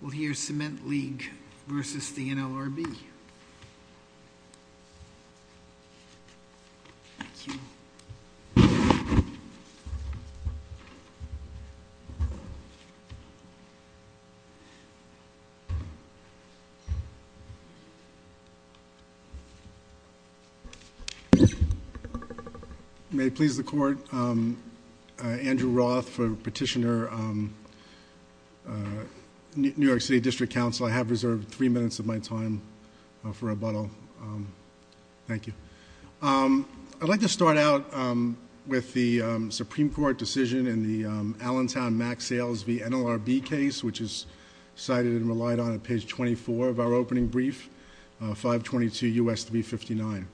We'll hear Cement League v. the NLRB. May it please the court, Andrew Roth for Petitioner, New York City District Council. I have reserved three minutes of my time for rebuttal. Thank you. I'd like to start out with the Supreme Court decision in the Allentown Max Sales v. NLRB case, which is cited and relied on at page 24 of our opening brief, 522 U.S. 359.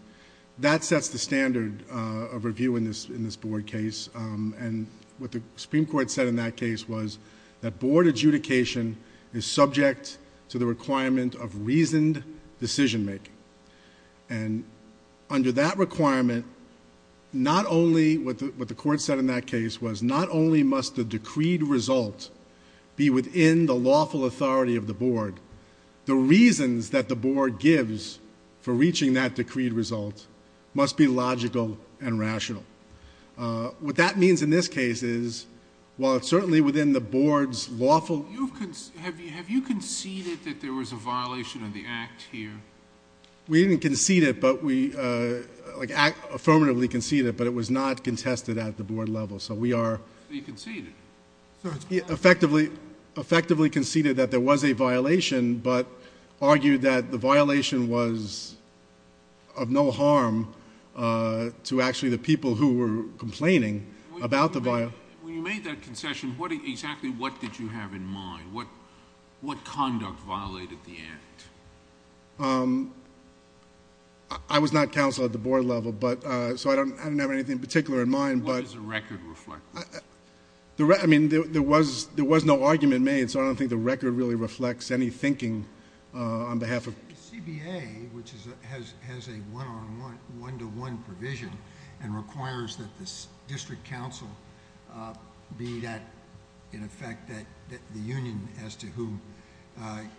That sets the standard of review in this board case, and what the Supreme Court said in that case was that board adjudication is subject to the requirement of reasoned decision-making. Under that requirement, what the court said in that case was not only must the decreed result be within the lawful authority of the board, the reasons that the board gives for reaching that decreed result must be logical and rational. What that means in this case is while it's certainly within the board's lawful... Have you conceded that there was a violation of the act here? We didn't concede it, but we... like affirmatively conceded it, but it was not contested at the board level. So we are... But you conceded. Effectively conceded that there was a violation, but argued that the violation was of no harm to actually the people who were complaining about the... When you made that concession, exactly what did you have in mind? What conduct violated the act? I was not counsel at the board level, so I didn't have anything in particular in mind, but... What does the record reflect? I mean, there was no argument made, so I don't think the record really reflects any thinking on behalf of... I think the CBA, which has a one-on-one, one-to-one provision and requires that the district counsel be that... in effect, that the union as to who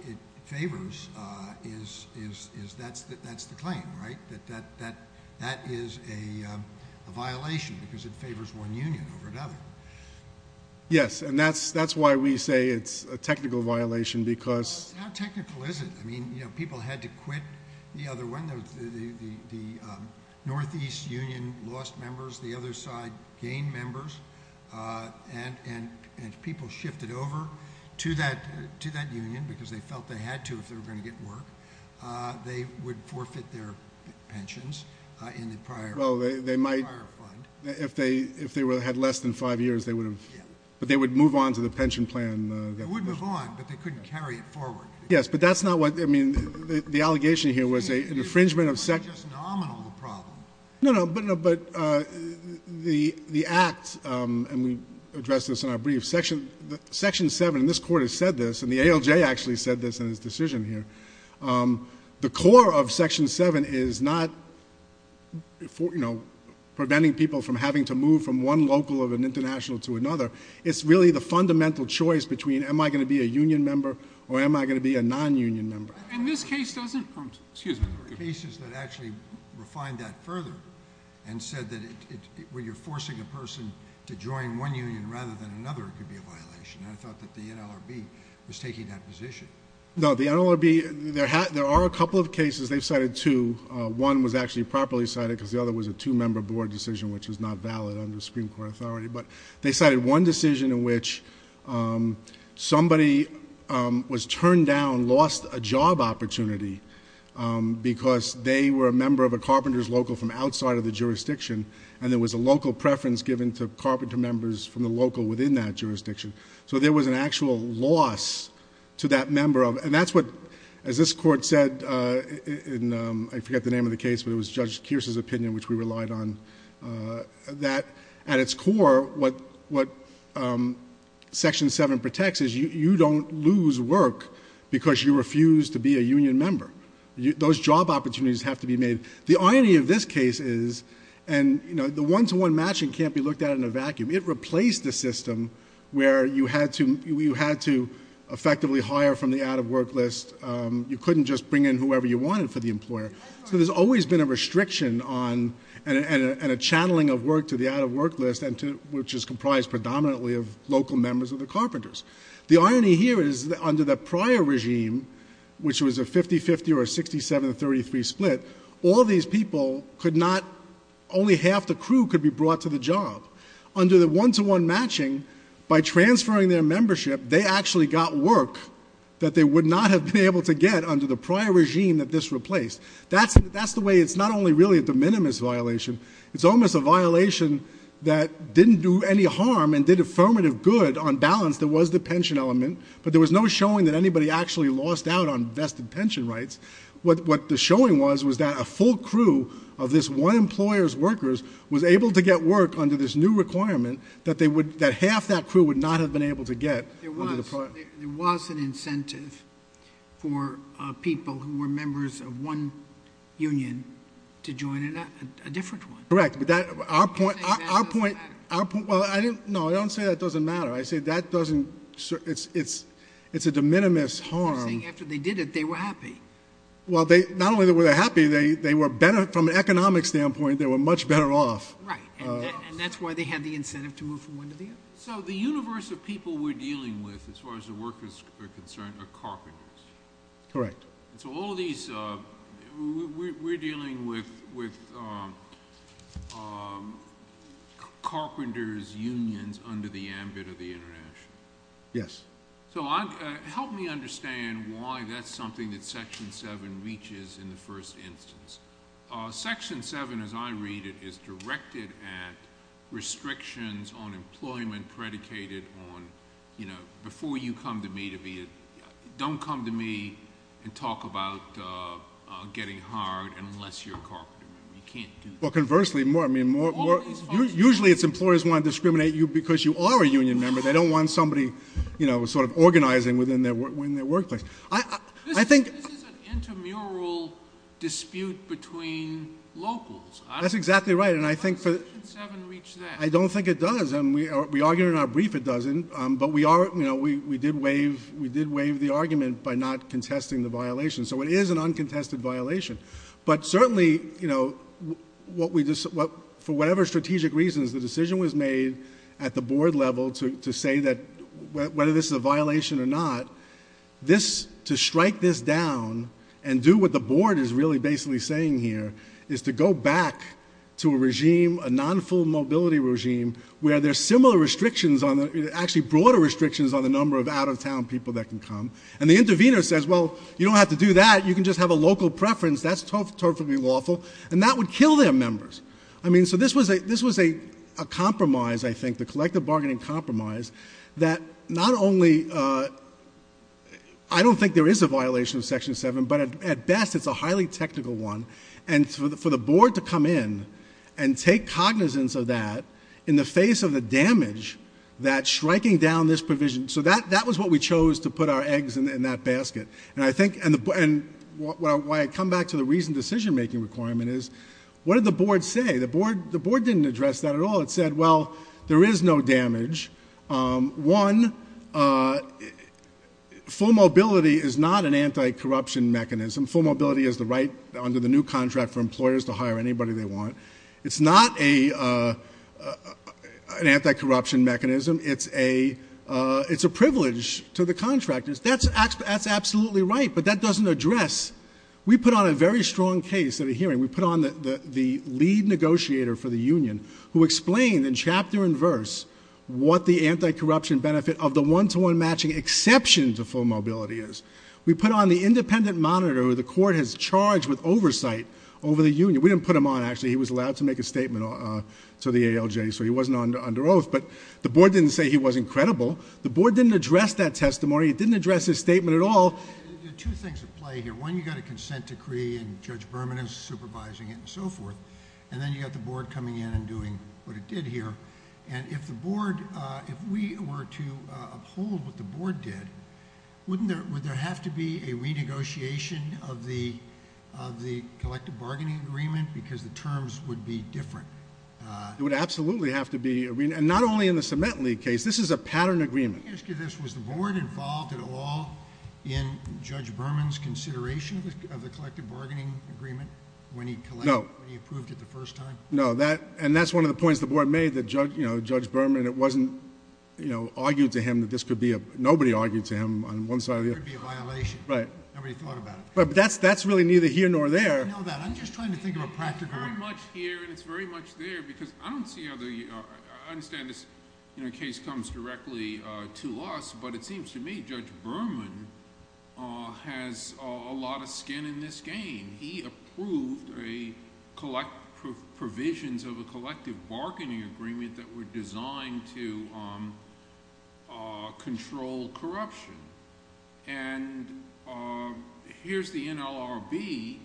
it favors, that's the claim, right? That that is a violation because it favors one union over another. Yes, and that's why we say it's a technical violation because... How technical is it? I mean, you know, people had to quit the other one. The Northeast Union lost members, the other side gained members, and if people shifted over to that union because they felt they had to if they were going to get work, they would forfeit their pensions in the prior fund. Well, they might... If they had less than five years, they would have... Yes. But they would move on to the pension plan... They would move on, but they couldn't carry it forward. Yes, but that's not what... I mean, the allegation here was an infringement of... It wasn't just nominal a problem. No, no, but the Act, and we addressed this in our brief, Section 7, and this Court has said this, and the ALJ actually said this in his decision here, the core of Section 7 is not, you know, preventing people from having to move from one local of an international to another. It's really the fundamental choice between am I going to be a union member or am I going to be a non-union member? And this case doesn't... Excuse me. There were cases that actually refined that further and said that when you're forcing a person to join one union rather than another, it could be a violation, and I thought that the NLRB was taking that position. No, the NLRB... There are a couple of cases, they've cited two. One was actually properly cited because the other was a two-member board decision which was not valid under Supreme Court authority, but they cited one decision in which somebody was turned down, lost a job opportunity because they were a member of a carpenter's local from outside of the jurisdiction, and there was a local preference given to carpenter members from the local within that jurisdiction. So there was an actual loss to that member of... And that's what, as this Court said in, I forget the name of the case, but it was Judge Kearse's opinion which we relied on, that at its core, what Section 7 protects is you don't lose work because you refuse to be a union member. Those job opportunities have to be made... The irony of this case is, and the one-to-one matching can't be looked at in a vacuum, it replaced the system where you had to effectively hire from the out-of-work list. You couldn't just bring in whoever you wanted for the employer, so there's always been a channeling of work to the out-of-work list, which is comprised predominantly of local members of the carpenters. The irony here is that under the prior regime, which was a 50-50 or a 67-33 split, all these people could not... Only half the crew could be brought to the job. Under the one-to-one matching, by transferring their membership, they actually got work that they would not have been able to get under the prior regime that this replaced. That's the way it's not only really a de minimis violation. It's almost a violation that didn't do any harm and did affirmative good on balance. There was the pension element, but there was no showing that anybody actually lost out on vested pension rights. What the showing was was that a full crew of this one employer's workers was able to get work under this new requirement that half that crew would not have been able to get under the prior... union to join a different one. Correct. Our point... I'm saying that doesn't matter. No. I don't say that doesn't matter. I say that doesn't... It's a de minimis harm. I'm saying after they did it, they were happy. Not only were they happy, from an economic standpoint, they were much better off. Right. That's why they had the incentive to move from one to the other. The universe of people we're dealing with, as far as the workers are concerned, are carpenters. Correct. All of these... We're dealing with carpenters' unions under the ambit of the international. Yes. Help me understand why that's something that Section 7 reaches in the first instance. Section 7, as I read it, is directed at restrictions on employment predicated on, before you come to me to be a... Don't come to me and talk about getting hired unless you're a carpenter. You can't do that. Conversely, more... All of these... Usually, it's employers want to discriminate you because you are a union member. They don't want somebody organizing within their workplace. I think... This is an intramural dispute between locals. That's exactly right. I think for... Why does Section 7 reach that? I don't think it does. We argue in our brief it doesn't. We did waive the argument by not contesting the violation. It is an uncontested violation. Certainly, for whatever strategic reasons, the decision was made at the board level to say that whether this is a violation or not, to strike this down and do what the board is really basically saying here is to go back to a regime, a non-full mobility regime, where there are similar restrictions on... Actually, broader restrictions on the number of out-of-town people that can come. The intervener says, well, you don't have to do that. You can just have a local preference. That's totally lawful. That would kill their members. This was a compromise, I think, the collective bargaining compromise that not only... I don't think there is a violation of Section 7, but at best, it's a highly technical one. For the board to come in and take cognizance of that in the face of the damage that striking down this provision... That was what we chose to put our eggs in that basket. Why I come back to the reasoned decision-making requirement is, what did the board say? The board didn't address that at all. It said, well, there is no damage. One, full mobility is not an anti-corruption mechanism. Full mobility is the right under the new contract for employers to hire anybody they want. It's not an anti-corruption mechanism. It's a privilege to the contractors. That's absolutely right, but that doesn't address... We put on a very strong case at a hearing. We put on the lead negotiator for the union, who explained in chapter and verse what the anti-corruption benefit of the one-to-one matching exception to full mobility is. We put on the independent monitor, who the court has charged with oversight over the union. We didn't put him on, actually. He was allowed to make a statement to the ALJ, so he wasn't under oath. The board didn't say he wasn't credible. The board didn't address that testimony. It didn't address his statement at all. There are two things at play here. One, you've got a consent decree and Judge Berman is supervising it and so forth. Then you've got the board coming in and doing what it did here. It would have to be a renegotiation of the collective bargaining agreement because the terms would be different. It would absolutely have to be a... Not only in the cement league case, this is a pattern agreement. Let me ask you this. Was the board involved at all in Judge Berman's consideration of the collective bargaining agreement when he approved it the first time? No. That's one of the points the board made, that Judge Berman... It wasn't argued to him that this could be a... Nobody argued to him on one side or the other. That there would be a violation. Right. Nobody thought about it. That's really neither here nor there. I know that. I'm just trying to think of a practical... It's very much here and it's very much there because I don't see how the... I understand this case comes directly to us, but it seems to me Judge Berman has a lot of skin in this game. He approved a... Provisions of a collective bargaining agreement that were designed to control corruption. Here's the NLRB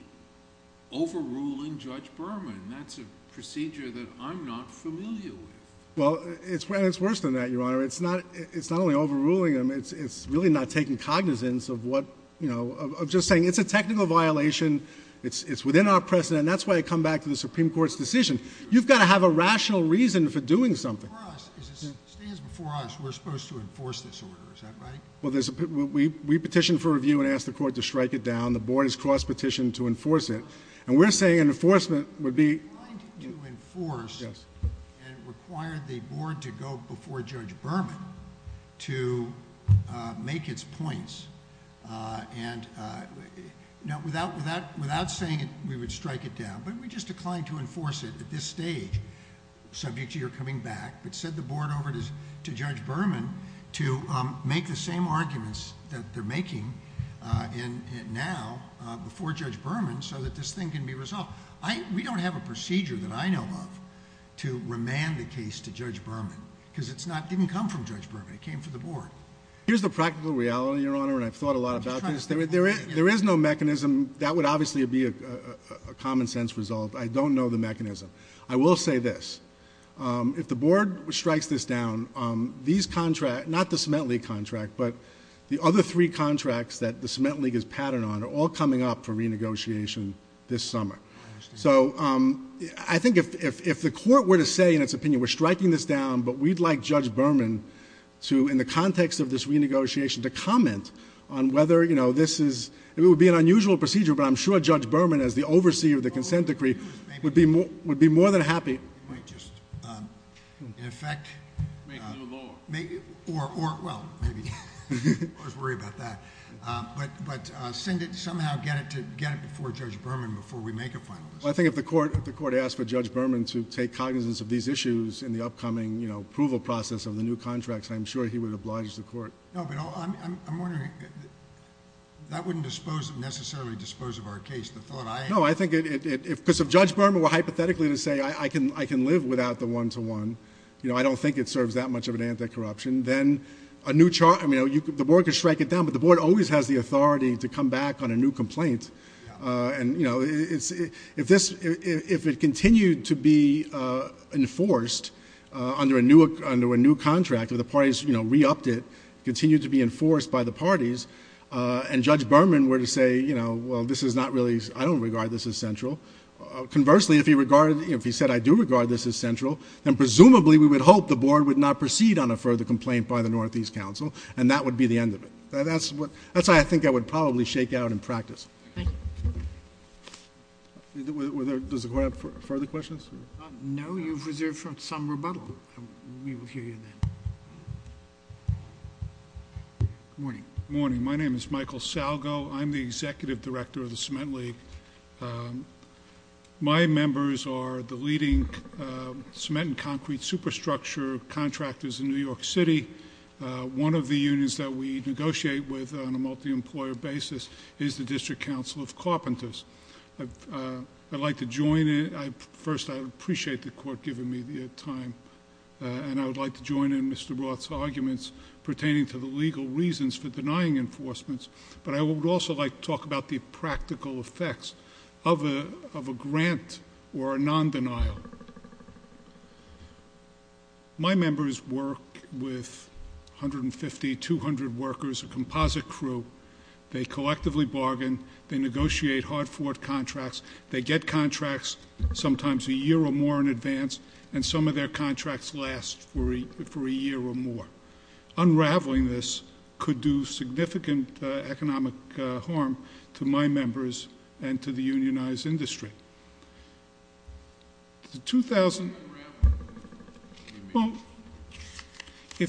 overruling Judge Berman. That's a procedure that I'm not familiar with. It's worse than that, Your Honor. It's not only overruling him. It's really not taking cognizance of what... I'm just saying it's a technical violation. It's within our precedent. That's why I come back to the Supreme Court's decision. You've got to have a rational reason for doing something. For us, as it stands before us, we're supposed to enforce this order. Is that right? Well, there's... We petitioned for review and asked the court to strike it down. The board has crossed petition to enforce it. We're saying an enforcement would be... We're trying to enforce and require the board to go before Judge Berman to make its points. Without saying it, we would strike it down, but we just declined to enforce it at this stage, subject to your coming back, but sent the board over to Judge Berman to make the same arguments that they're making now before Judge Berman so that this thing can be resolved. We don't have a procedure that I know of to remand the case to Judge Berman because it didn't come from Judge Berman. It came from the board. Here's the practical reality, Your Honor, and I've thought a lot about this. There is no mechanism. That would obviously be a common sense result. I don't know the mechanism. I will say this. If the board strikes this down, these contracts... not the cement league contract, but the other three contracts that the cement league is patterned on are all coming up for renegotiation this summer. I think if the court were to say in its opinion, we're striking this down, but we'd like Judge Berman to, in the context of this renegotiation, to comment on whether this is... it would be an unusual procedure, but I'm sure Judge Berman, as the overseer of the consent decree, would be more than happy... In effect... Make a new law. Well, maybe. I'll just worry about that. Somehow get it before Judge Berman before we make a final decision. I think if the court asked for Judge Berman to take cognizance of these issues in the process of the new contracts, I'm sure he would oblige the court. No, but I'm wondering... that wouldn't necessarily dispose of our case. The thought I... No, I think if... because if Judge Berman were hypothetically to say, I can live without the one-to-one, I don't think it serves that much of an anti-corruption, then a new... the board could strike it down, but the board always has the authority to come back on a new complaint. If it continued to be enforced under a new contract, if the parties re-upped it, continued to be enforced by the parties, and Judge Berman were to say, well, this is not really... I don't regard this as central. Conversely, if he said, I do regard this as central, then presumably we would hope the board would not proceed on a further complaint by the Northeast Council, and that would be the end of it. That's what... that's why I think I would probably shake out in practice. Thank you. Were there... does the court have further questions? No. You've reserved for some rebuttal. We will hear you then. Good morning. Good morning. My name is Michael Salgo. I'm the Executive Director of the Cement League. My members are the leading cement and concrete superstructure contractors in New York City. One of the unions that we negotiate with on a multi-employer basis is the District Council of Carpenters. I'd like to join in... first, I appreciate the court giving me the time, and I would like to join in Mr. Roth's arguments pertaining to the legal reasons for denying enforcements, but I would also like to talk about the practical effects of a grant or a non-denial. So, my members work with 150, 200 workers, a composite crew. They collectively bargain. They negotiate hard-fought contracts. They get contracts, sometimes a year or more in advance, and some of their contracts last for a year or more. Unraveling this could do significant economic harm to my members and to the unionized industry. If we strike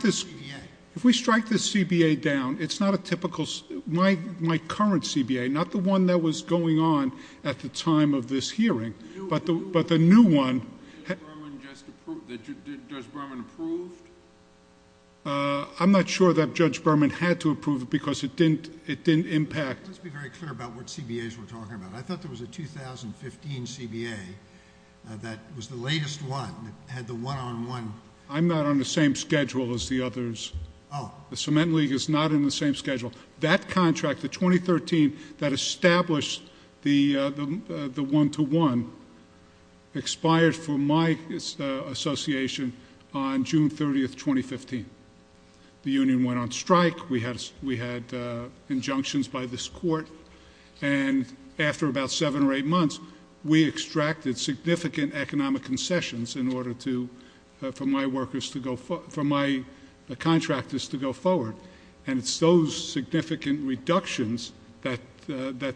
this CBA down, it's not a typical... my current CBA, not the one that was... the new one... Judge Berman just approved... Judge Berman approved? I'm not sure that Judge Berman had to approve it because it didn't impact... Let's be very clear about what CBAs we're talking about. I thought there was a 2015 CBA that was the latest one that had the one-on-one... I'm not on the same schedule as the others. The Cement League is not in the same schedule. That contract, the 2013, that established the one-to-one, expired for my association on June 30th, 2015. The union went on strike. We had injunctions by this court. After about seven or eight months, we extracted significant economic concessions in order to... for my workers to go... for my contractors to go forward. It's those significant reductions that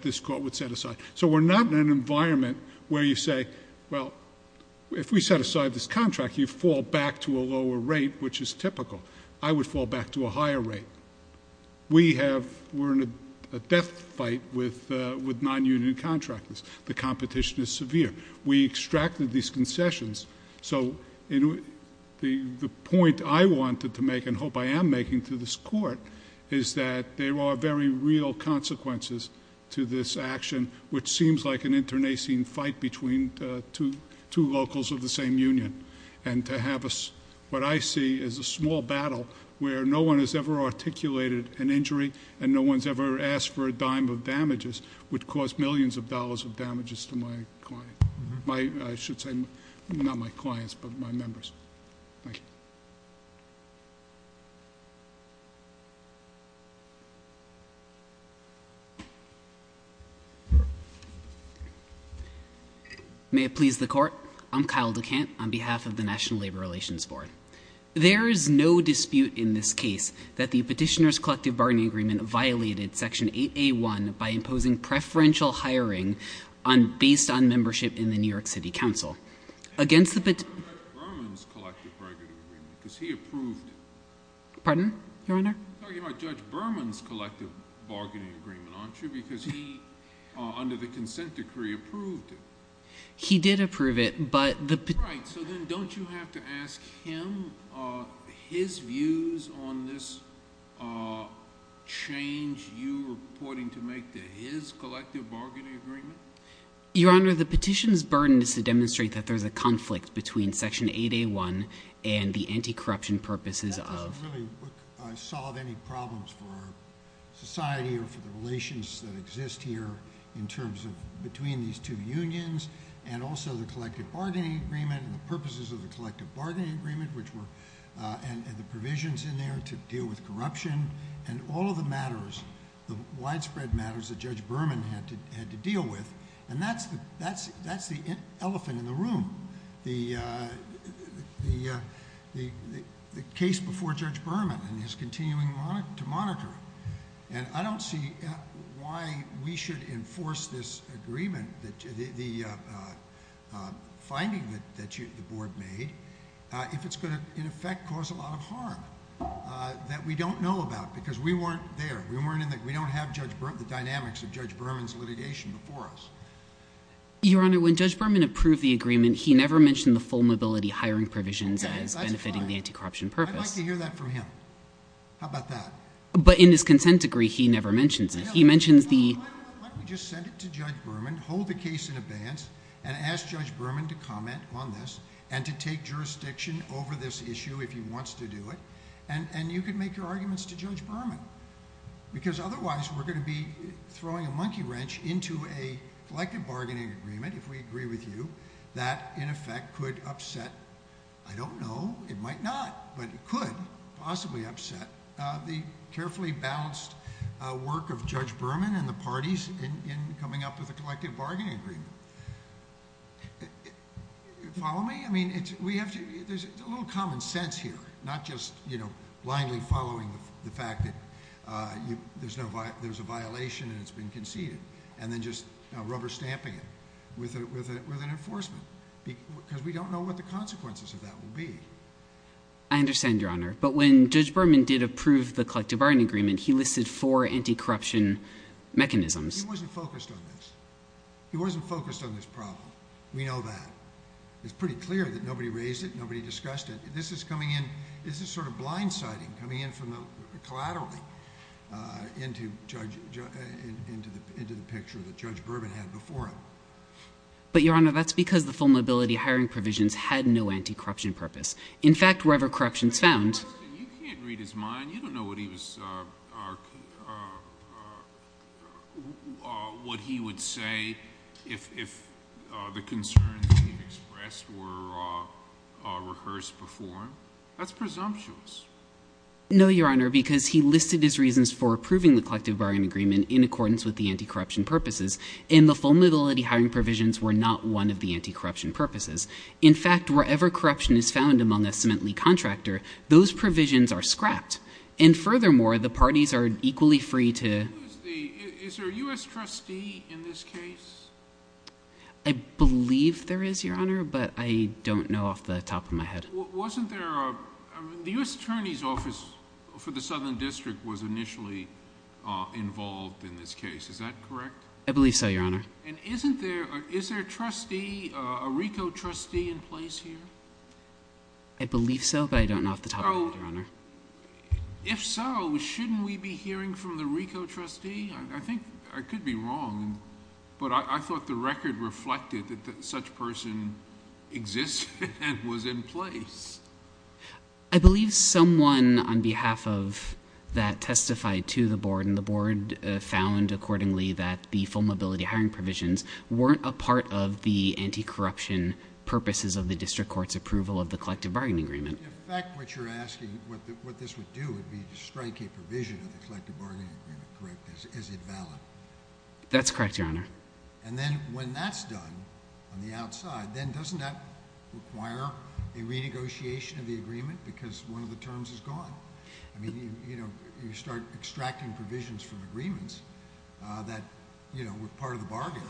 this court would set aside. We're not in an environment where you say, well, if we set aside this contract, you fall back to a lower rate, which is typical. I would fall back to a higher rate. We have... we're in a death fight with non-union contractors. The competition is severe. We extracted these concessions. The point I wanted to make, and hope I am making to this court, is that there are very real consequences to this action, which seems like an internecine fight between two locals of the same union. What I see is a small battle where no one has ever articulated an injury, and no one's ever asked for a dime of damages, which caused millions of dollars of damages to my client. My... I should say, not my clients, but my members. Thank you. May it please the Court, I'm Kyle DeCant on behalf of the National Labor Relations Board. There is no dispute in this case that the Petitioner's Collective Bargaining Agreement violated Section 8A.1 by imposing preferential hiring based on membership in the New York City Council. I'm talking about Judge Berman's Collective Bargaining Agreement, aren't you? Because he, under the Consent Decree, approved it. He did approve it, but... Your Honor, the Petitioner's burden is to demonstrate that there's a conflict between Section 8A.1 and the anti-corruption purposes of... That doesn't really solve any problems for our society or for the relations that exist here in terms of between these two unions, and also the Collective Bargaining Agreement and the purposes of the Collective Bargaining Agreement, which were... and the provisions in there to deal with corruption, and all of the matters, the widespread matters that Judge Berman had to deal with, and that's the elephant in the room, the case before Judge Berman and his continuing to monitor. I don't see why we should enforce this agreement, the finding that the Board made, if it's going to, in effect, cause a lot of harm that we don't know about, because we weren't there. We don't have the dynamics of Judge Berman's litigation before us. Your Honor, when Judge Berman approved the agreement, he never mentioned the full-mobility hiring provisions as benefiting the anti-corruption purpose. That's fine. I'd like to hear that from him. How about that? But in his Consent Decree, he never mentions it. He mentions the... Why don't we just send it to Judge Berman, hold the case in abeyance, and ask Judge Berman to comment on this, and to take jurisdiction over this issue if he wants to do it, and you can make your arguments to Judge Berman, because otherwise, we're going to be throwing a monkey wrench into a collective bargaining agreement, if we agree with you, that, in effect, could upset... I don't know, it might not, but it could possibly upset the carefully balanced work of Judge Berman and the parties in coming up with a collective bargaining agreement. Follow me? I mean, it's... we have to... there's a little common sense here, not just blindly following the fact that there's a violation and it's been conceded, and then just rubber-stamping it with an enforcement, because we don't know what the consequences of that will be. I understand, Your Honor, but when Judge Berman did approve the collective bargaining agreement, he listed four anti-corruption mechanisms. He wasn't focused on this. He wasn't focused on this problem. We know that. It's pretty clear that nobody raised it, nobody discussed it. This is coming in... this is sort of blind-sighted, coming in from the... collaterally, into Judge... into the picture that Judge Berman had before him. But Your Honor, that's because the full-mobility hiring provisions had no anti-corruption purpose. In fact, wherever corruption's found... You can't read his mind. You don't know what he was... what he would say if the concerns he expressed were rehearsed before him. That's presumptuous. No, Your Honor, because he listed his reasons for approving the collective bargaining agreement in accordance with the anti-corruption purposes, and the full-mobility hiring provisions were not one of the anti-corruption purposes. In fact, wherever corruption is found among a cement-lead contractor, those provisions are scrapped. And furthermore, the parties are equally free to... Is there a U.S. trustee in this case? I believe there is, Your Honor, but I don't know off the top of my head. Wasn't there a... the U.S. Attorney's Office for the Southern District was initially involved in this case. Is that correct? I believe so, Your Honor. And isn't there... is there a trustee, a RICO trustee, in place here? I believe so, but I don't know off the top of my head, Your Honor. If so, shouldn't we be hearing from the RICO trustee? I think I could be wrong, but I thought the record reflected that such person exists and was in place. I believe someone on behalf of that testified to the Board, and the Board found accordingly that the full-mobility hiring provisions weren't a part of the anti-corruption purposes of the district court's approval of the collective bargaining agreement. In fact, what you're asking, what this would do would be to strike a provision of the collective bargaining agreement, correct? Is it valid? That's correct, Your Honor. And then, when that's done on the outside, then doesn't that require a renegotiation of the agreement because one of the terms is gone? I mean, you know, you start extracting provisions from agreements that, you know, were part of the bargain.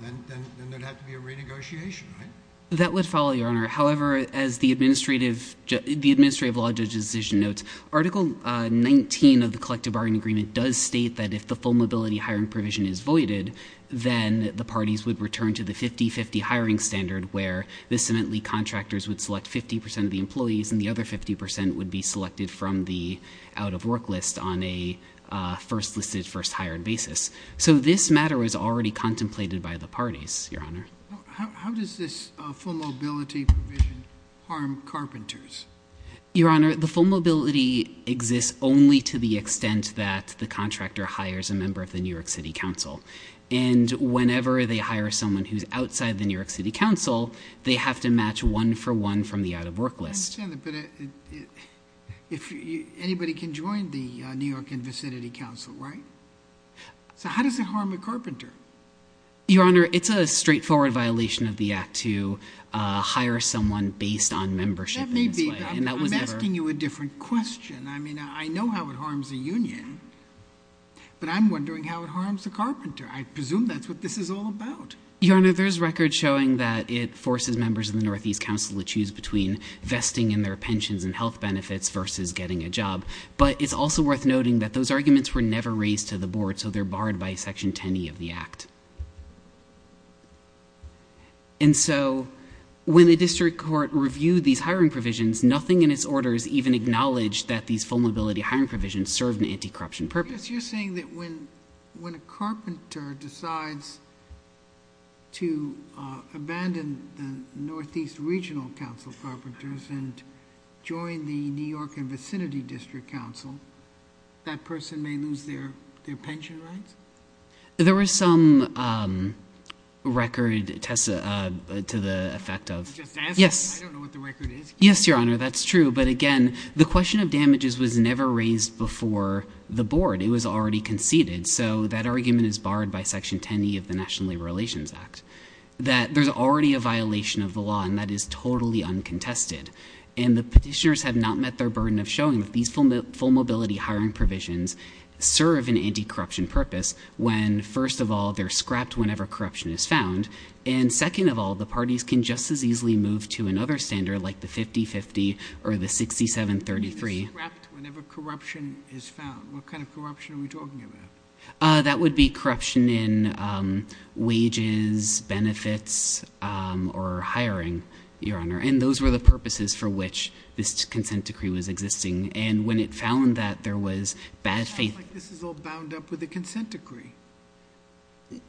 Then there'd have to be a renegotiation, right? That would follow, Your Honor. However, as the administrative law judge's decision notes, Article 19 of the collective bargaining agreement does state that if the full-mobility hiring provision is voided, then the parties would return to the 50-50 hiring standard where the cement league contractors would select 50% of the employees and the other 50% would be selected from the out-of-work list on a first-listed, first-hired basis. So this matter was already contemplated by the parties, Your Honor. How does this full-mobility provision harm carpenters? Your Honor, the full-mobility exists only to the extent that the contractor hires a member of the New York City Council. And whenever they hire someone who's outside the New York City Council, they have to match one-for-one from the out-of-work list. I understand that, but if anybody can join the New York and vicinity council, right? So how does it harm a carpenter? Your Honor, it's a straightforward violation of the act to hire someone based on membership in this way. That may be, but I'm asking you a different question. I mean, I know how it harms a union, but I'm wondering how it harms a carpenter. I presume that's what this is all about. Your Honor, there's records showing that it forces members of the Northeast Council to choose between vesting in their pensions and health benefits versus getting a job. But it's also worth noting that those arguments were never raised to the board, so they're barred by Section 10e of the act. And so when the district court reviewed these hiring provisions, nothing in its orders even acknowledged that these full-mobility hiring provisions serve an anti-corruption purpose. So you're saying that when a carpenter decides to abandon the Northeast Regional Council carpenters and join the New York and vicinity district council, that person may lose their pension rights? There was some record to the effect of— I'm just asking. I don't know what the record is. Yes, Your Honor, that's true. But again, the question of damages was never raised before the board. It was already conceded. So that argument is barred by Section 10e of the National Labor Relations Act. That there's already a violation of the law, and that is totally uncontested. And the petitioners have not met their burden of showing that these full-mobility hiring provisions serve an anti-corruption purpose when, first of all, they're scrapped whenever corruption is found. And second of all, the parties can just as easily move to another standard like the 50-50 or the 67-33. They're scrapped whenever corruption is found. What kind of corruption are we talking about? That would be corruption in wages, benefits, or hiring, Your Honor. And those were the purposes for which this consent decree was existing. And when it found that, there was bad faith— It sounds like this is all bound up with the consent decree.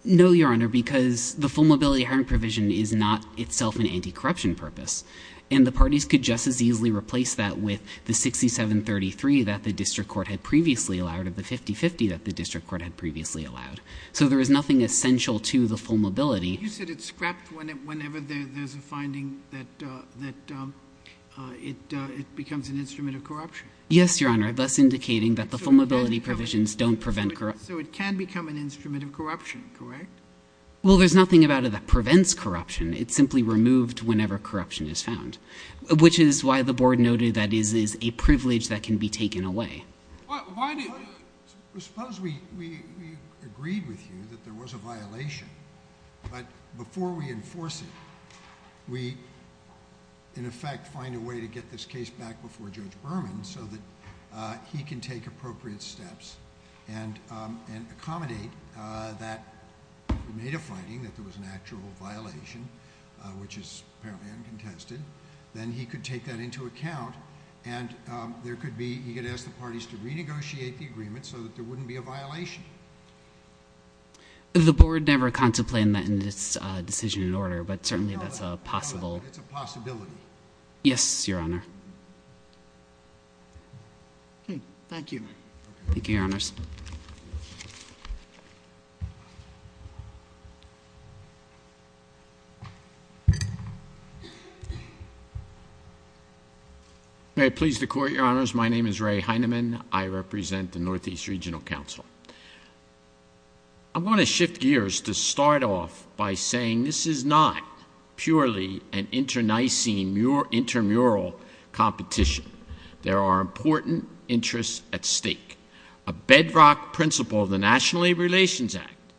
No, Your Honor, because the full-mobility hiring provision is not itself an anti-corruption purpose. And the parties could just as easily replace that with the 67-33 that the district court had previously allowed, or the 50-50 that the district court had previously allowed. So there is nothing essential to the full-mobility. You said it's scrapped whenever there's a finding that it becomes an instrument of corruption. Yes, Your Honor, thus indicating that the full-mobility provisions don't prevent— So it can become an instrument of corruption, correct? Well, there's nothing about it that prevents corruption. It's simply removed whenever corruption is found, which is why the board noted that this is a privilege that can be taken away. Why do— Suppose we agreed with you that there was a violation, but before we enforce it, we, in effect, find a way to get this case back before Judge Berman so that he can take appropriate steps and accommodate that we made a finding that there was an actual violation, which is apparently uncontested, then he could take that into account, and there could be—he could ask the parties to renegotiate the agreement so that there wouldn't be a violation. The board never contemplated that in its decision and order, but certainly that's a possible— It's a possibility. Yes, Your Honor. Okay. Thank you. Okay. Thank you, Your Honors. May I please the Court, Your Honors? My name is Ray Heinemann. I represent the Northeast Regional Council. I want to shift gears to start off by saying this is not purely an internecine, intermural competition. There are important interests at stake. A bedrock principle of the National Labor Relations Act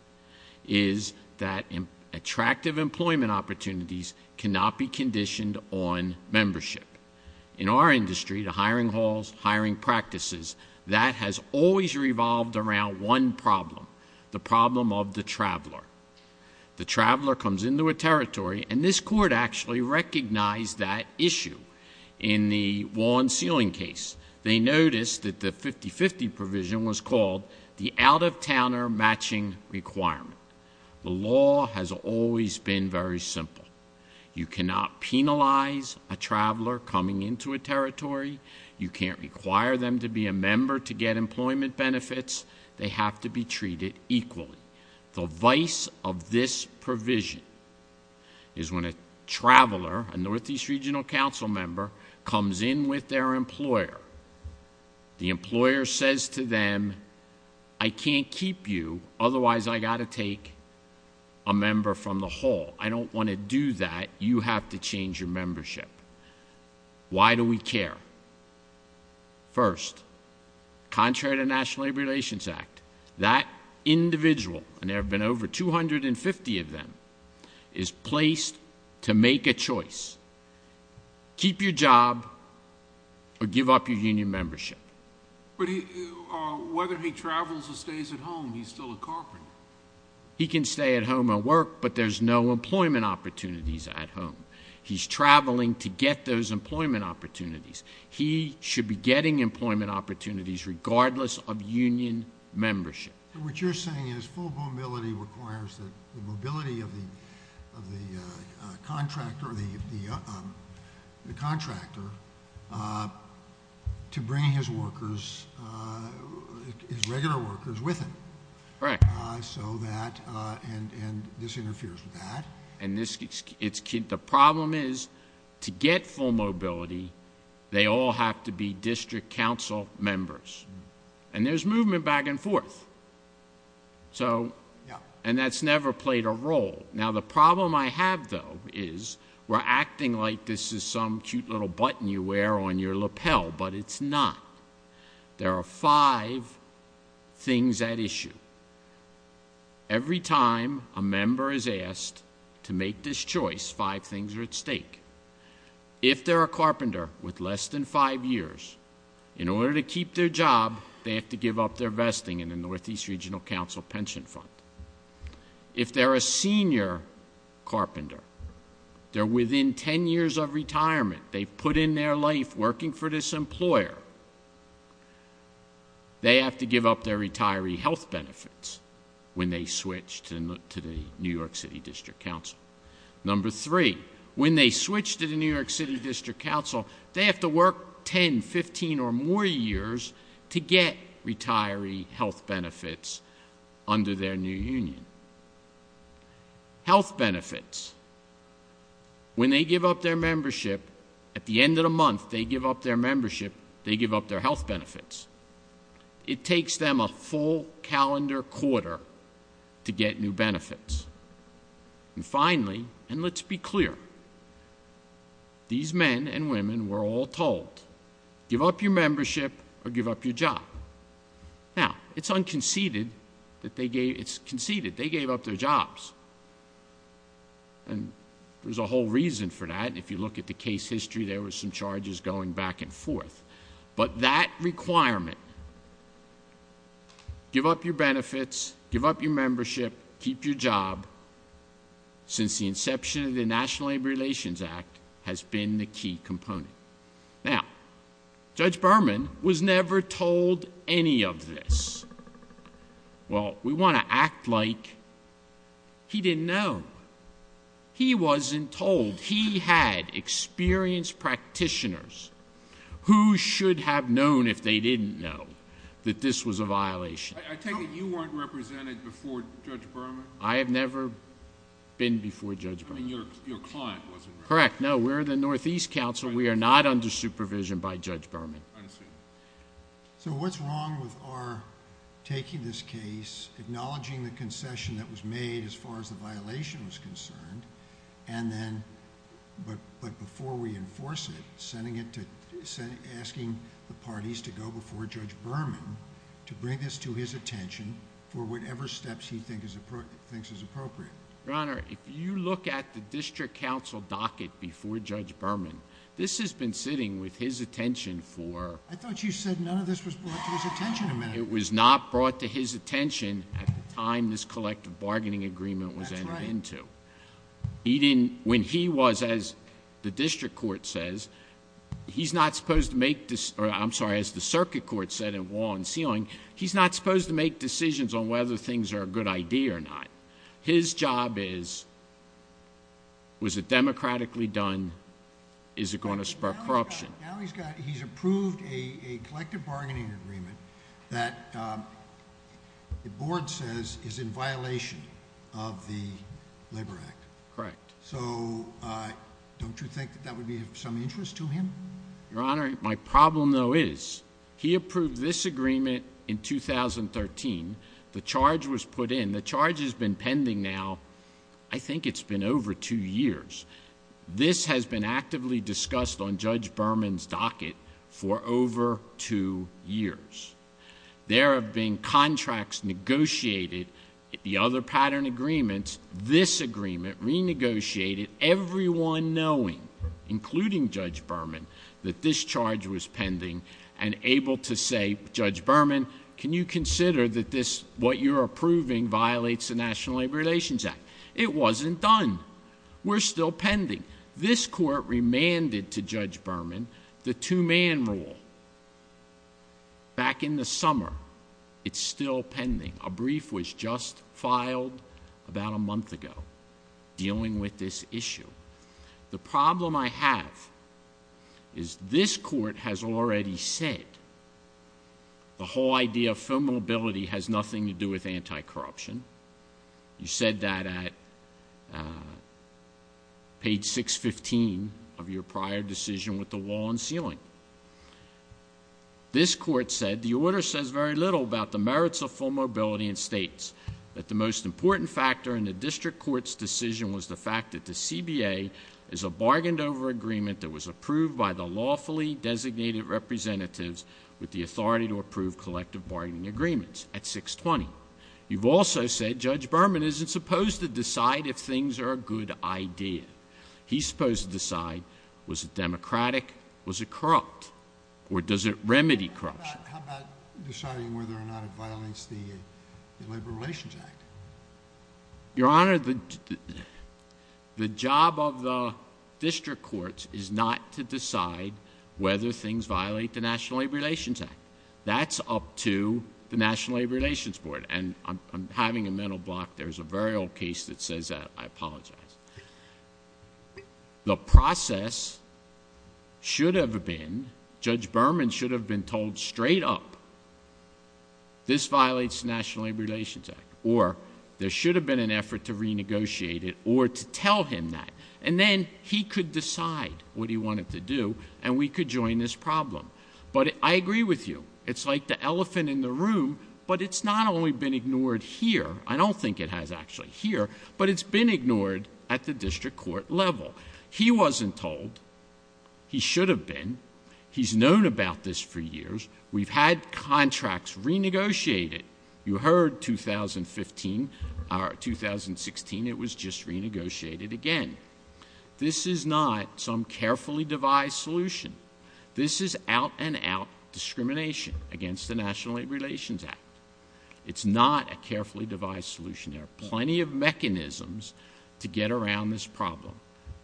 is that attractive employment opportunities cannot be conditioned on membership. In our industry, the hiring halls, hiring practices, that has always revolved around one problem, the problem of the traveler. The traveler comes into a territory, and this Court actually recognized that issue in the one ceiling case. They noticed that the 50-50 provision was called the out-of-towner matching requirement. The law has always been very simple. You cannot penalize a traveler coming into a territory. You can't require them to be a member to get employment benefits. They have to be treated equally. The vice of this provision is when a traveler, a Northeast Regional Council member, comes in with their employer, the employer says to them, I can't keep you, otherwise I got to take a member from the hall. I don't want to do that. You have to change your membership. Why do we care? First, contrary to the National Labor Relations Act, that individual, and there have been over 250 of them, is placed to make a choice. Keep your job or give up your union membership. But whether he travels or stays at home, he's still a carpenter. He can stay at home and work, but there's no employment opportunities at home. He's traveling to get those employment opportunities. He should be getting employment opportunities regardless of union membership. What you're saying is full mobility requires the mobility of the contractor to bring his workers, his regular workers, with him. Correct. So that, and this interferes with that. The problem is, to get full mobility, they all have to be District Council members. And there's movement back and forth. So, and that's never played a role. Now, the problem I have, though, is we're acting like this is some cute little button you wear on your lapel, but it's not. There are five things at issue. Every time a member is asked to make this choice, five things are at stake. If they're a carpenter with less than five years, in order to keep their job, they have to give up their vesting in the Northeast Regional Council pension fund. If they're a senior carpenter, they're within ten years of retirement, they've put in their life working for this employer, they have to give up their retiree health benefits when they switch to the New York City District Council. Number three, when they switch to the New York City District Council, they have to work 10, 15, or more years to get retiree health benefits under their new union. Health benefits, when they give up their membership, at the end of the month they give up their membership, they give up their health benefits. It takes them a full calendar quarter to get new benefits. And finally, and let's be clear, these men and women were all told, give up your membership or give up your job. Now, it's conceded, they gave up their jobs. And there's a whole reason for that, if you look at the case history, there were some charges going back and forth. But that requirement, give up your benefits, give up your membership, keep your job, since the inception of the National Labor Relations Act has been the key component. Now, Judge Berman was never told any of this. Well, we want to act like he didn't know. He wasn't told. He had experienced practitioners who should have known if they didn't know that this was a violation. I take it you weren't represented before Judge Berman? I have never been before Judge Berman. I mean, your client wasn't represented. Correct. No, we're the Northeast Council. We are not under supervision by Judge Berman. I see. So what's wrong with our taking this case, acknowledging the concession that was made as far as the violation was concerned, and then, but before we enforce it, asking the parties to go before Judge Berman to bring this to his attention for whatever steps he thinks is appropriate? Your Honor, if you look at the District Council docket before Judge Berman, this has been sitting with his attention for... I thought you said none of this was brought to his attention. It was not brought to his attention at the time this collective bargaining agreement was entered into. That's right. When he was, as the district court says, he's not supposed to make... I'm sorry, as the circuit court said in Wall and Ceiling, he's not supposed to make decisions on whether things are a good idea or not. His job is, was it democratically done? Is it going to spark corruption? Now he's approved a collective bargaining agreement that the board says is in violation of the Labor Act. Correct. So don't you think that that would be of some interest to him? Your Honor, my problem, though, is he approved this agreement in 2013. The charge was put in. The charge has been pending now, I think it's been over two years. This has been actively discussed on Judge Berman's docket for over two years. There have been contracts negotiated, the other pattern agreements. This agreement renegotiated, everyone knowing, including Judge Berman, that this charge was pending and able to say, Judge Berman, can you consider that this, what you're approving, violates the National Labor Relations Act? It wasn't done. We're still pending. This Court remanded to Judge Berman the two-man rule. Back in the summer, it's still pending. A brief was just filed about a month ago dealing with this issue. The problem I have is this Court has already said the whole idea of filmmobility has nothing to do with anti-corruption. You said that at page 615 of your prior decision with the wall and ceiling. This Court said the order says very little about the merits of filmmobility and states that the most important factor in the district court's decision was the fact that the CBA is a bargained-over agreement that was approved by the lawfully designated representatives with the authority to approve collective bargaining agreements at 620. You've also said Judge Berman isn't supposed to decide if things are a good idea. He's supposed to decide was it democratic, was it corrupt, or does it remedy corruption. How about deciding whether or not it violates the Labor Relations Act? Your Honor, the job of the district courts is not to decide whether things violate the National Labor Relations Act. That's up to the National Labor Relations Board, and I'm having a mental block. There's a very old case that says that. I apologize. The process should have been, Judge Berman should have been told straight up, this violates the National Labor Relations Act, or there should have been an effort to renegotiate it or to tell him that, and then he could decide what he wanted to do and we could join this problem. But I agree with you. It's like the elephant in the room, but it's not only been ignored here. I don't think it has actually here, but it's been ignored at the district court level. He wasn't told. He should have been. He's known about this for years. We've had contracts renegotiated. You heard 2015 or 2016, it was just renegotiated again. This is not some carefully devised solution. This is out-and-out discrimination against the National Labor Relations Act. It's not a carefully devised solution. There are plenty of mechanisms to get around this problem.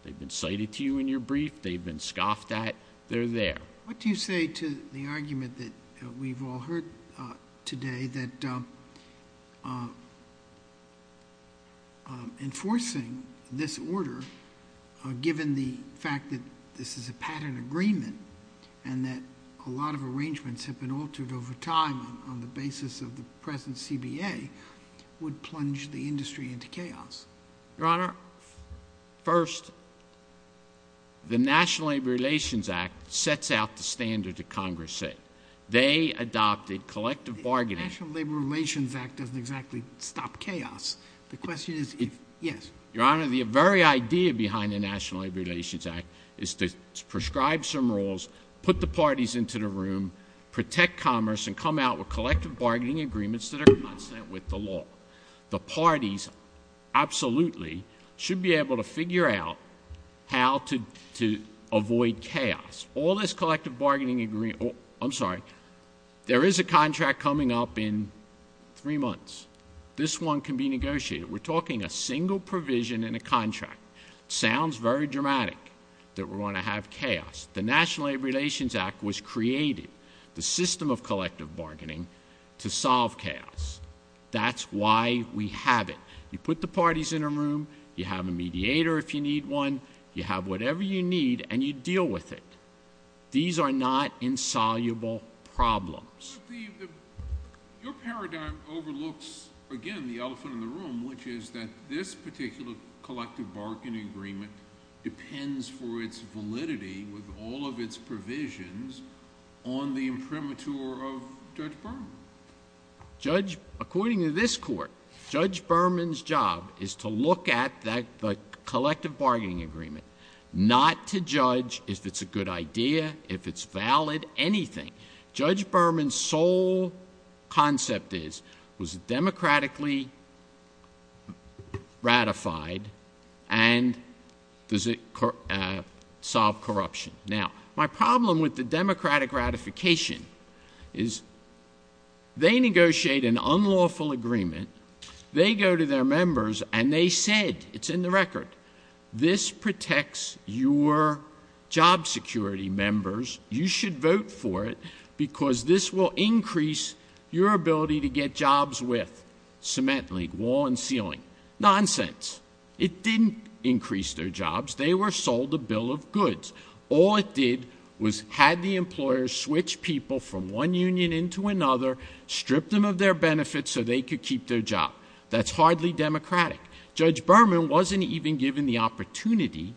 They've been cited to you in your brief. They've been scoffed at. They're there. What do you say to the argument that we've all heard today that enforcing this order, given the fact that this is a pattern agreement and that a lot of arrangements have been altered over time on the basis of the present CBA, would plunge the industry into chaos? Your Honor, first, the National Labor Relations Act sets out the standard that Congress set. They adopted collective bargaining. The National Labor Relations Act doesn't exactly stop chaos. The question is if, yes. Your Honor, the very idea behind the National Labor Relations Act is to prescribe some rules, put the parties into the room, protect commerce, and come out with collective bargaining agreements that are consistent with the law. The parties absolutely should be able to figure out how to avoid chaos. All this collective bargaining agreement—I'm sorry. There is a contract coming up in three months. This one can be negotiated. We're talking a single provision in a contract. It sounds very dramatic that we're going to have chaos. The National Labor Relations Act was created, the system of collective bargaining, to solve chaos. That's why we have it. You put the parties in a room. You have a mediator if you need one. You have whatever you need, and you deal with it. These are not insoluble problems. Your paradigm overlooks, again, the elephant in the room, which is that this particular collective bargaining agreement depends for its validity with all of its provisions on the imprimatur of Judge Berman. According to this Court, Judge Berman's job is to look at the collective bargaining agreement, not to judge if it's a good idea, if it's valid, anything. Judge Berman's sole concept is, was it democratically ratified, and does it solve corruption? Now, my problem with the democratic ratification is they negotiate an unlawful agreement. They go to their members, and they said—it's in the record— because this will increase your ability to get jobs with cement link, wall and ceiling. Nonsense. It didn't increase their jobs. They were sold a bill of goods. All it did was had the employers switch people from one union into another, strip them of their benefits so they could keep their job. That's hardly democratic. Judge Berman wasn't even given the opportunity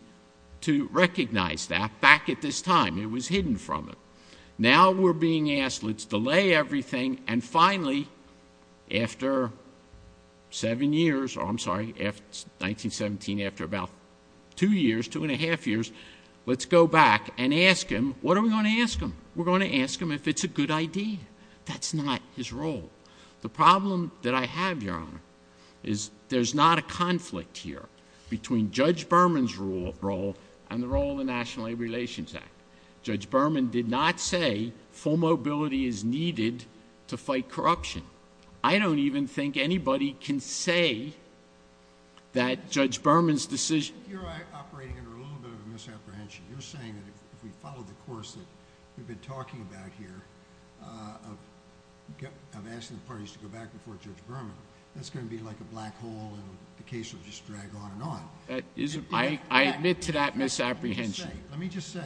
to recognize that back at this time. It was hidden from him. Now we're being asked, let's delay everything, and finally, after seven years— I'm sorry, 1917, after about two years, two and a half years— let's go back and ask him, what are we going to ask him? We're going to ask him if it's a good idea. That's not his role. The problem that I have, Your Honor, is there's not a conflict here between Judge Berman's role and the role of the National Labor Relations Act. Judge Berman did not say full mobility is needed to fight corruption. I don't even think anybody can say that Judge Berman's decision— You're operating under a little bit of a misapprehension. You're saying that if we follow the course that we've been talking about here of asking the parties to go back before Judge Berman, that's going to be like a black hole and the case will just drag on and on. I admit to that misapprehension. Let me just say,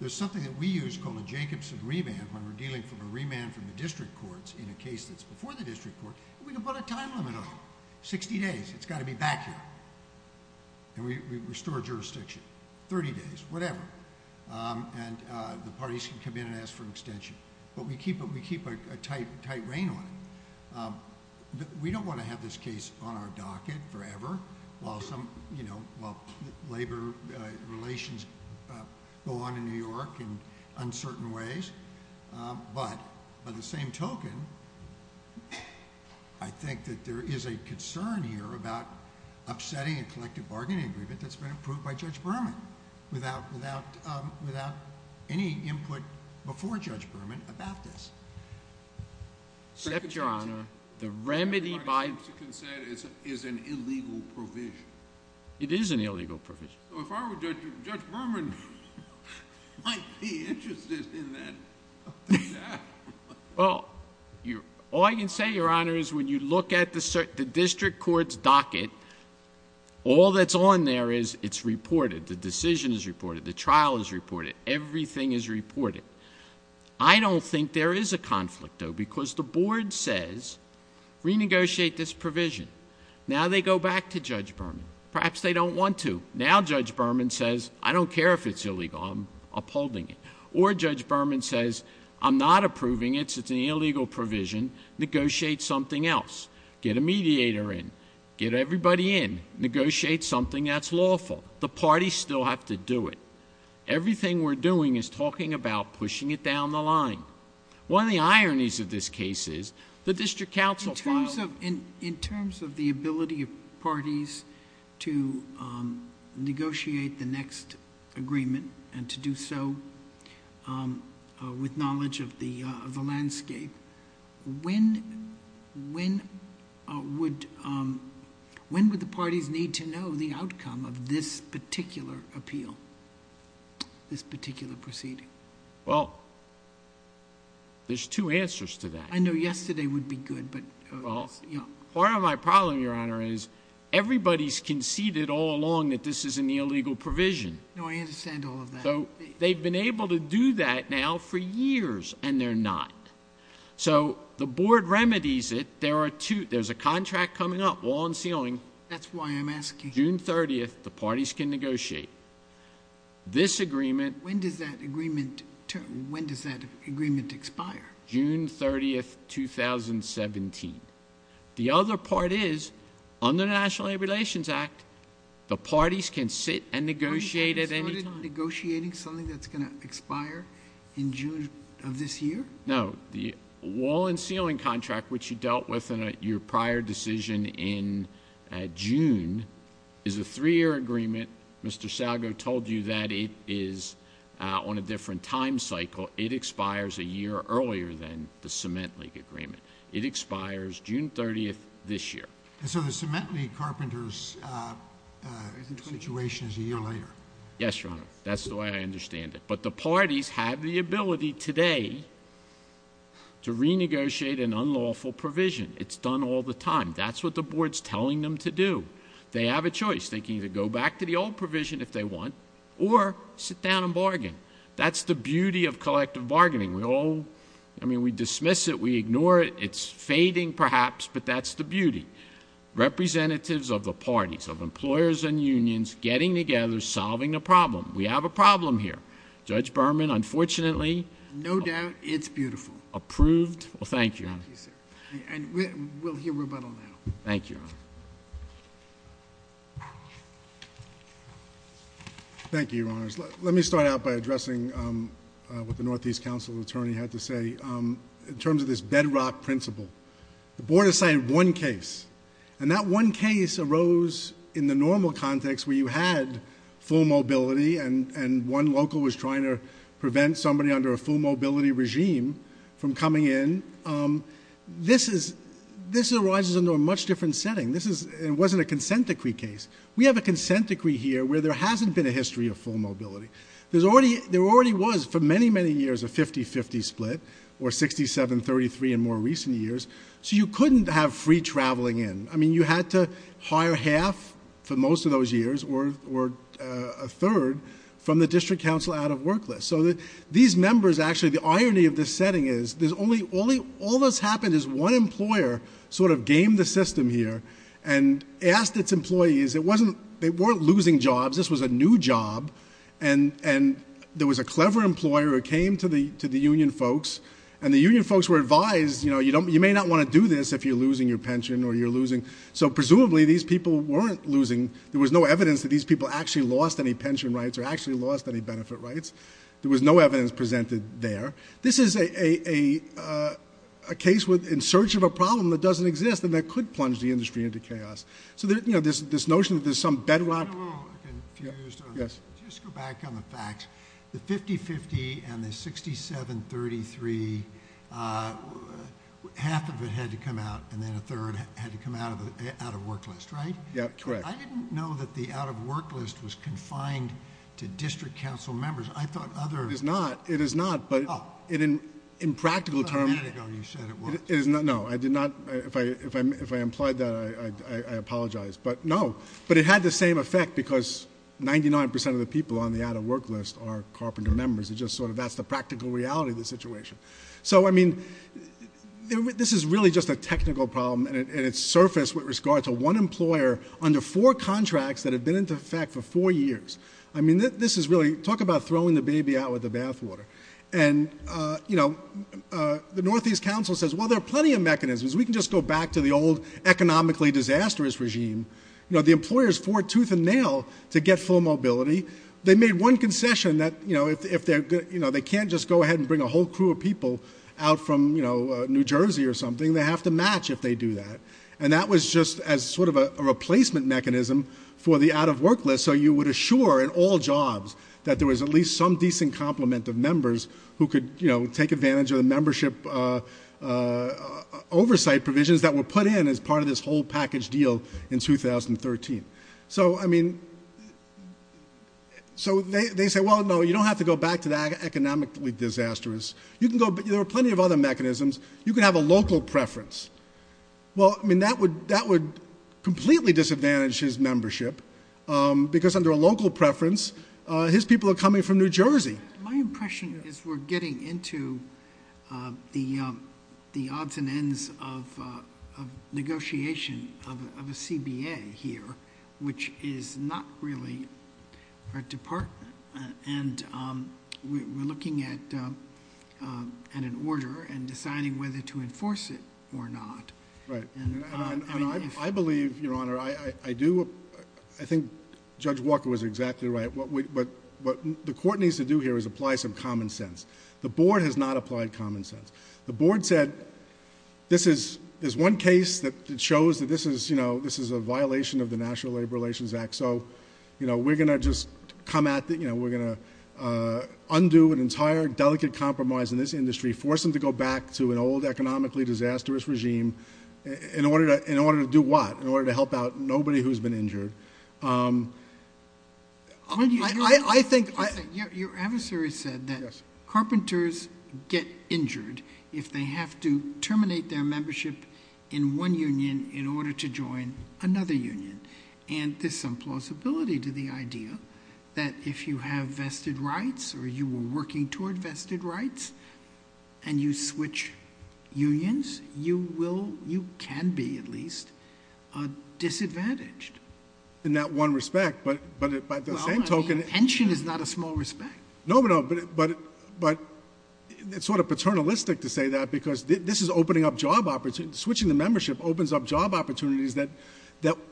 there's something that we use called a Jacobson remand when we're dealing from a remand from the district courts in a case that's before the district court. We can put a time limit on it, 60 days. It's got to be back here. We restore jurisdiction, 30 days, whatever. The parties can come in and ask for an extension. We keep a tight rein on it. We don't want to have this case on our docket forever while labor relations go on in New York in uncertain ways. By the same token, I think that there is a concern here about upsetting a collective bargaining agreement that's been approved by Judge Berman without any input before Judge Berman about this. Except, Your Honor, the remedy by- It's an illegal provision. It is an illegal provision. If I were Judge Berman, I'd be interested in that. All I can say, Your Honor, is when you look at the district court's docket, all that's on there is it's reported. The trial is reported. Everything is reported. I don't think there is a conflict, though, because the board says, renegotiate this provision. Now they go back to Judge Berman. Perhaps they don't want to. Now Judge Berman says, I don't care if it's illegal. I'm upholding it. Or Judge Berman says, I'm not approving it. It's an illegal provision. Negotiate something else. Get a mediator in. Get everybody in. Negotiate something that's lawful. The parties still have to do it. Everything we're doing is talking about pushing it down the line. One of the ironies of this case is the district counsel filed- In terms of the ability of parties to negotiate the next agreement and to do so with knowledge of the landscape, when would the parties need to know the outcome of this particular appeal, this particular proceeding? Well, there's two answers to that. I know yesterday would be good, but- Well, part of my problem, Your Honor, is everybody's conceded all along that this is an illegal provision. No, I understand all of that. So they've been able to do that now for years, and they're not. So the board remedies it. There's a contract coming up, wall and ceiling. That's why I'm asking. June 30th, the parties can negotiate. This agreement- When does that agreement expire? June 30th, 2017. The other part is, under the National Labor Relations Act, the parties can sit and negotiate at any time. So you're not negotiating something that's going to expire in June of this year? No. The wall and ceiling contract, which you dealt with in your prior decision in June, is a three-year agreement. Mr. Salgo told you that it is on a different time cycle. It expires a year earlier than the cement league agreement. It expires June 30th this year. So the cement league carpenter's situation is a year later? Yes, Your Honor. That's the way I understand it. But the parties have the ability today to renegotiate an unlawful provision. It's done all the time. That's what the board's telling them to do. They have a choice. They can either go back to the old provision if they want or sit down and bargain. That's the beauty of collective bargaining. We all dismiss it. We ignore it. It's fading, perhaps, but that's the beauty. Representatives of the parties, of employers and unions, getting together, solving the problem. We have a problem here. Judge Berman, unfortunately... No doubt it's beautiful.... approved. Well, thank you, Your Honor. Thank you, sir. And we'll hear rebuttal now. Thank you, Your Honor. Thank you, Your Honors. Let me start out by addressing what the Northeast Council attorney had to say. In terms of this bedrock principle, the board decided one case. And that one case arose in the normal context where you had full mobility and one local was trying to prevent somebody under a full mobility regime from coming in. This arises under a much different setting. This wasn't a consent decree case. We have a consent decree here where there hasn't been a history of full mobility. There already was, for many, many years, a 50-50 split or 67-33 in more recent years. So you couldn't have free traveling in. I mean, you had to hire half for most of those years or a third from the district council out of work list. So these members actually... the irony of this setting is there's only... all that's happened is one employer sort of gamed the system here and asked its employees. It wasn't... they weren't losing jobs. This was a new job, and there was a clever employer who came to the union folks, and the union folks were advised, you know, you may not want to do this if you're losing your pension or you're losing... So, presumably, these people weren't losing. There was no evidence that these people actually lost any pension rights or actually lost any benefit rights. There was no evidence presented there. This is a case in search of a problem that doesn't exist and that could plunge the industry into chaos. So, you know, this notion that there's some bedrock... I'm a little confused on this. Just go back on the facts. The 50-50 and the 67-33, half of it had to come out, and then a third had to come out of work list, right? Yeah, correct. I didn't know that the out of work list was confined to district council members. I thought other... It is not, but in practical terms... You said it was. No, I did not. If I implied that, I apologize, but no. But it had the same effect because 99% of the people on the out of work list are carpenter members. It just sort of... That's the practical reality of the situation. So, I mean, this is really just a technical problem, and it surfaced with regard to one employer under four contracts that had been in effect for four years. I mean, this is really... Talk about throwing the baby out with the bathwater. And, you know, the Northeast Council says, well, there are plenty of mechanisms. We can just go back to the old economically disastrous regime. You know, the employers fought tooth and nail to get full mobility. They made one concession that, you know, if they're... You know, they can't just go ahead and bring a whole crew of people out from, you know, New Jersey or something. They have to match if they do that, and that was just as sort of a replacement mechanism for the out of work list, and so you would assure in all jobs that there was at least some decent complement of members who could, you know, take advantage of the membership oversight provisions that were put in as part of this whole package deal in 2013. So, I mean... So, they say, well, no, you don't have to go back to that economically disastrous. You can go... There are plenty of other mechanisms. You can have a local preference. Well, I mean, that would completely disadvantage his membership because under a local preference, his people are coming from New Jersey. My impression is we're getting into the odds and ends of negotiation of a CBA here, which is not really a department, and we're looking at an order and deciding whether to enforce it or not. Right, and I believe, Your Honor, I do... I think Judge Walker was exactly right. What the court needs to do here is apply some common sense. The board has not applied common sense. The board said this is... There's one case that shows that this is, you know, this is a violation of the National Labor Relations Act, so, you know, we're going to just come at... You know, we're going to undo an entire delicate compromise in this industry, force them to go back to an old economically disastrous regime in order to do what? In order to help out nobody who's been injured. I think... Your adversary said that carpenters get injured if they have to terminate their membership in one union in order to join another union, and there's some plausibility to the idea that if you have vested rights or you were working toward vested rights and you switch unions, you will... you can be, at least, disadvantaged. In that one respect, but by the same token... Well, I mean, pension is not a small respect. No, but it's sort of paternalistic to say that because this is opening up job opportunities. Switching the membership opens up job opportunities that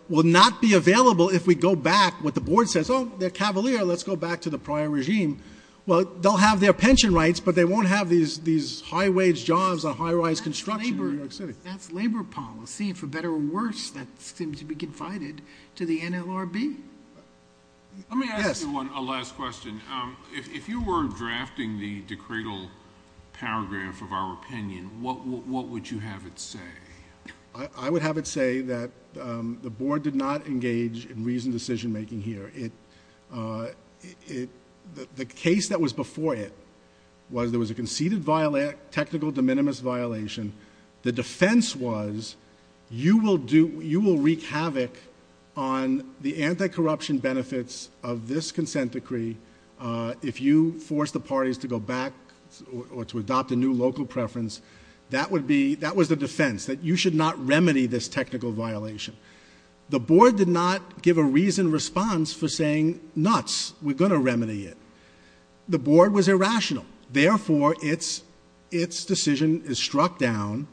will not be available if we go back what the board says. Oh, they're cavalier. Let's go back to the prior regime. Well, they'll have their pension rights, but they won't have these high-wage jobs on high-rise construction in New York City. That's labor policy, and for better or worse, that seems to be confided to the NLRB. Let me ask you one last question. If you were drafting the decretal paragraph of our opinion, what would you have it say? I would have it say that the board did not engage in reasoned decision-making here. The case that was before it was there was a conceded technical de minimis violation. The defense was you will wreak havoc on the anti-corruption benefits of this consent decree if you force the parties to go back or to adopt a new local preference. That was the defense, that you should not remedy this technical violation. The board did not give a reasoned response for saying, nuts, we're going to remedy it. The board was irrational. Therefore, its decision is struck down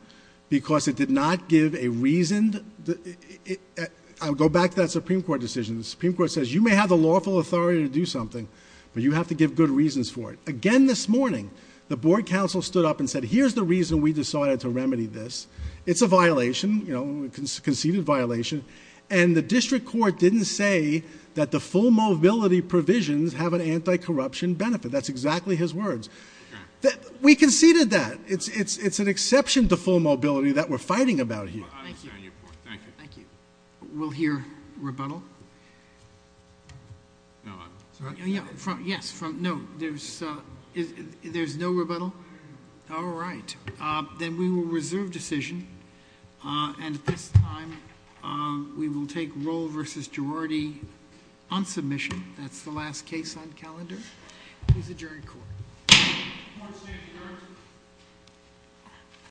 because it did not give a reasoned... I'll go back to that Supreme Court decision. The Supreme Court says you may have the lawful authority to do something, but you have to give good reasons for it. Again this morning, the board counsel stood up and said, here's the reason we decided to remedy this. It's a violation, a conceded violation. And the district court didn't say that the full mobility provisions have an anti-corruption benefit. That's exactly his words. We conceded that. It's an exception to full mobility that we're fighting about here. Thank you. Thank you. We'll hear rebuttal. No. Yes. No. There's no rebuttal. All right. Then we will reserve decision. And at this time, we will take Roll v. Girardi on submission. That's the last case on calendar. Please adjourn court. Court is adjourned.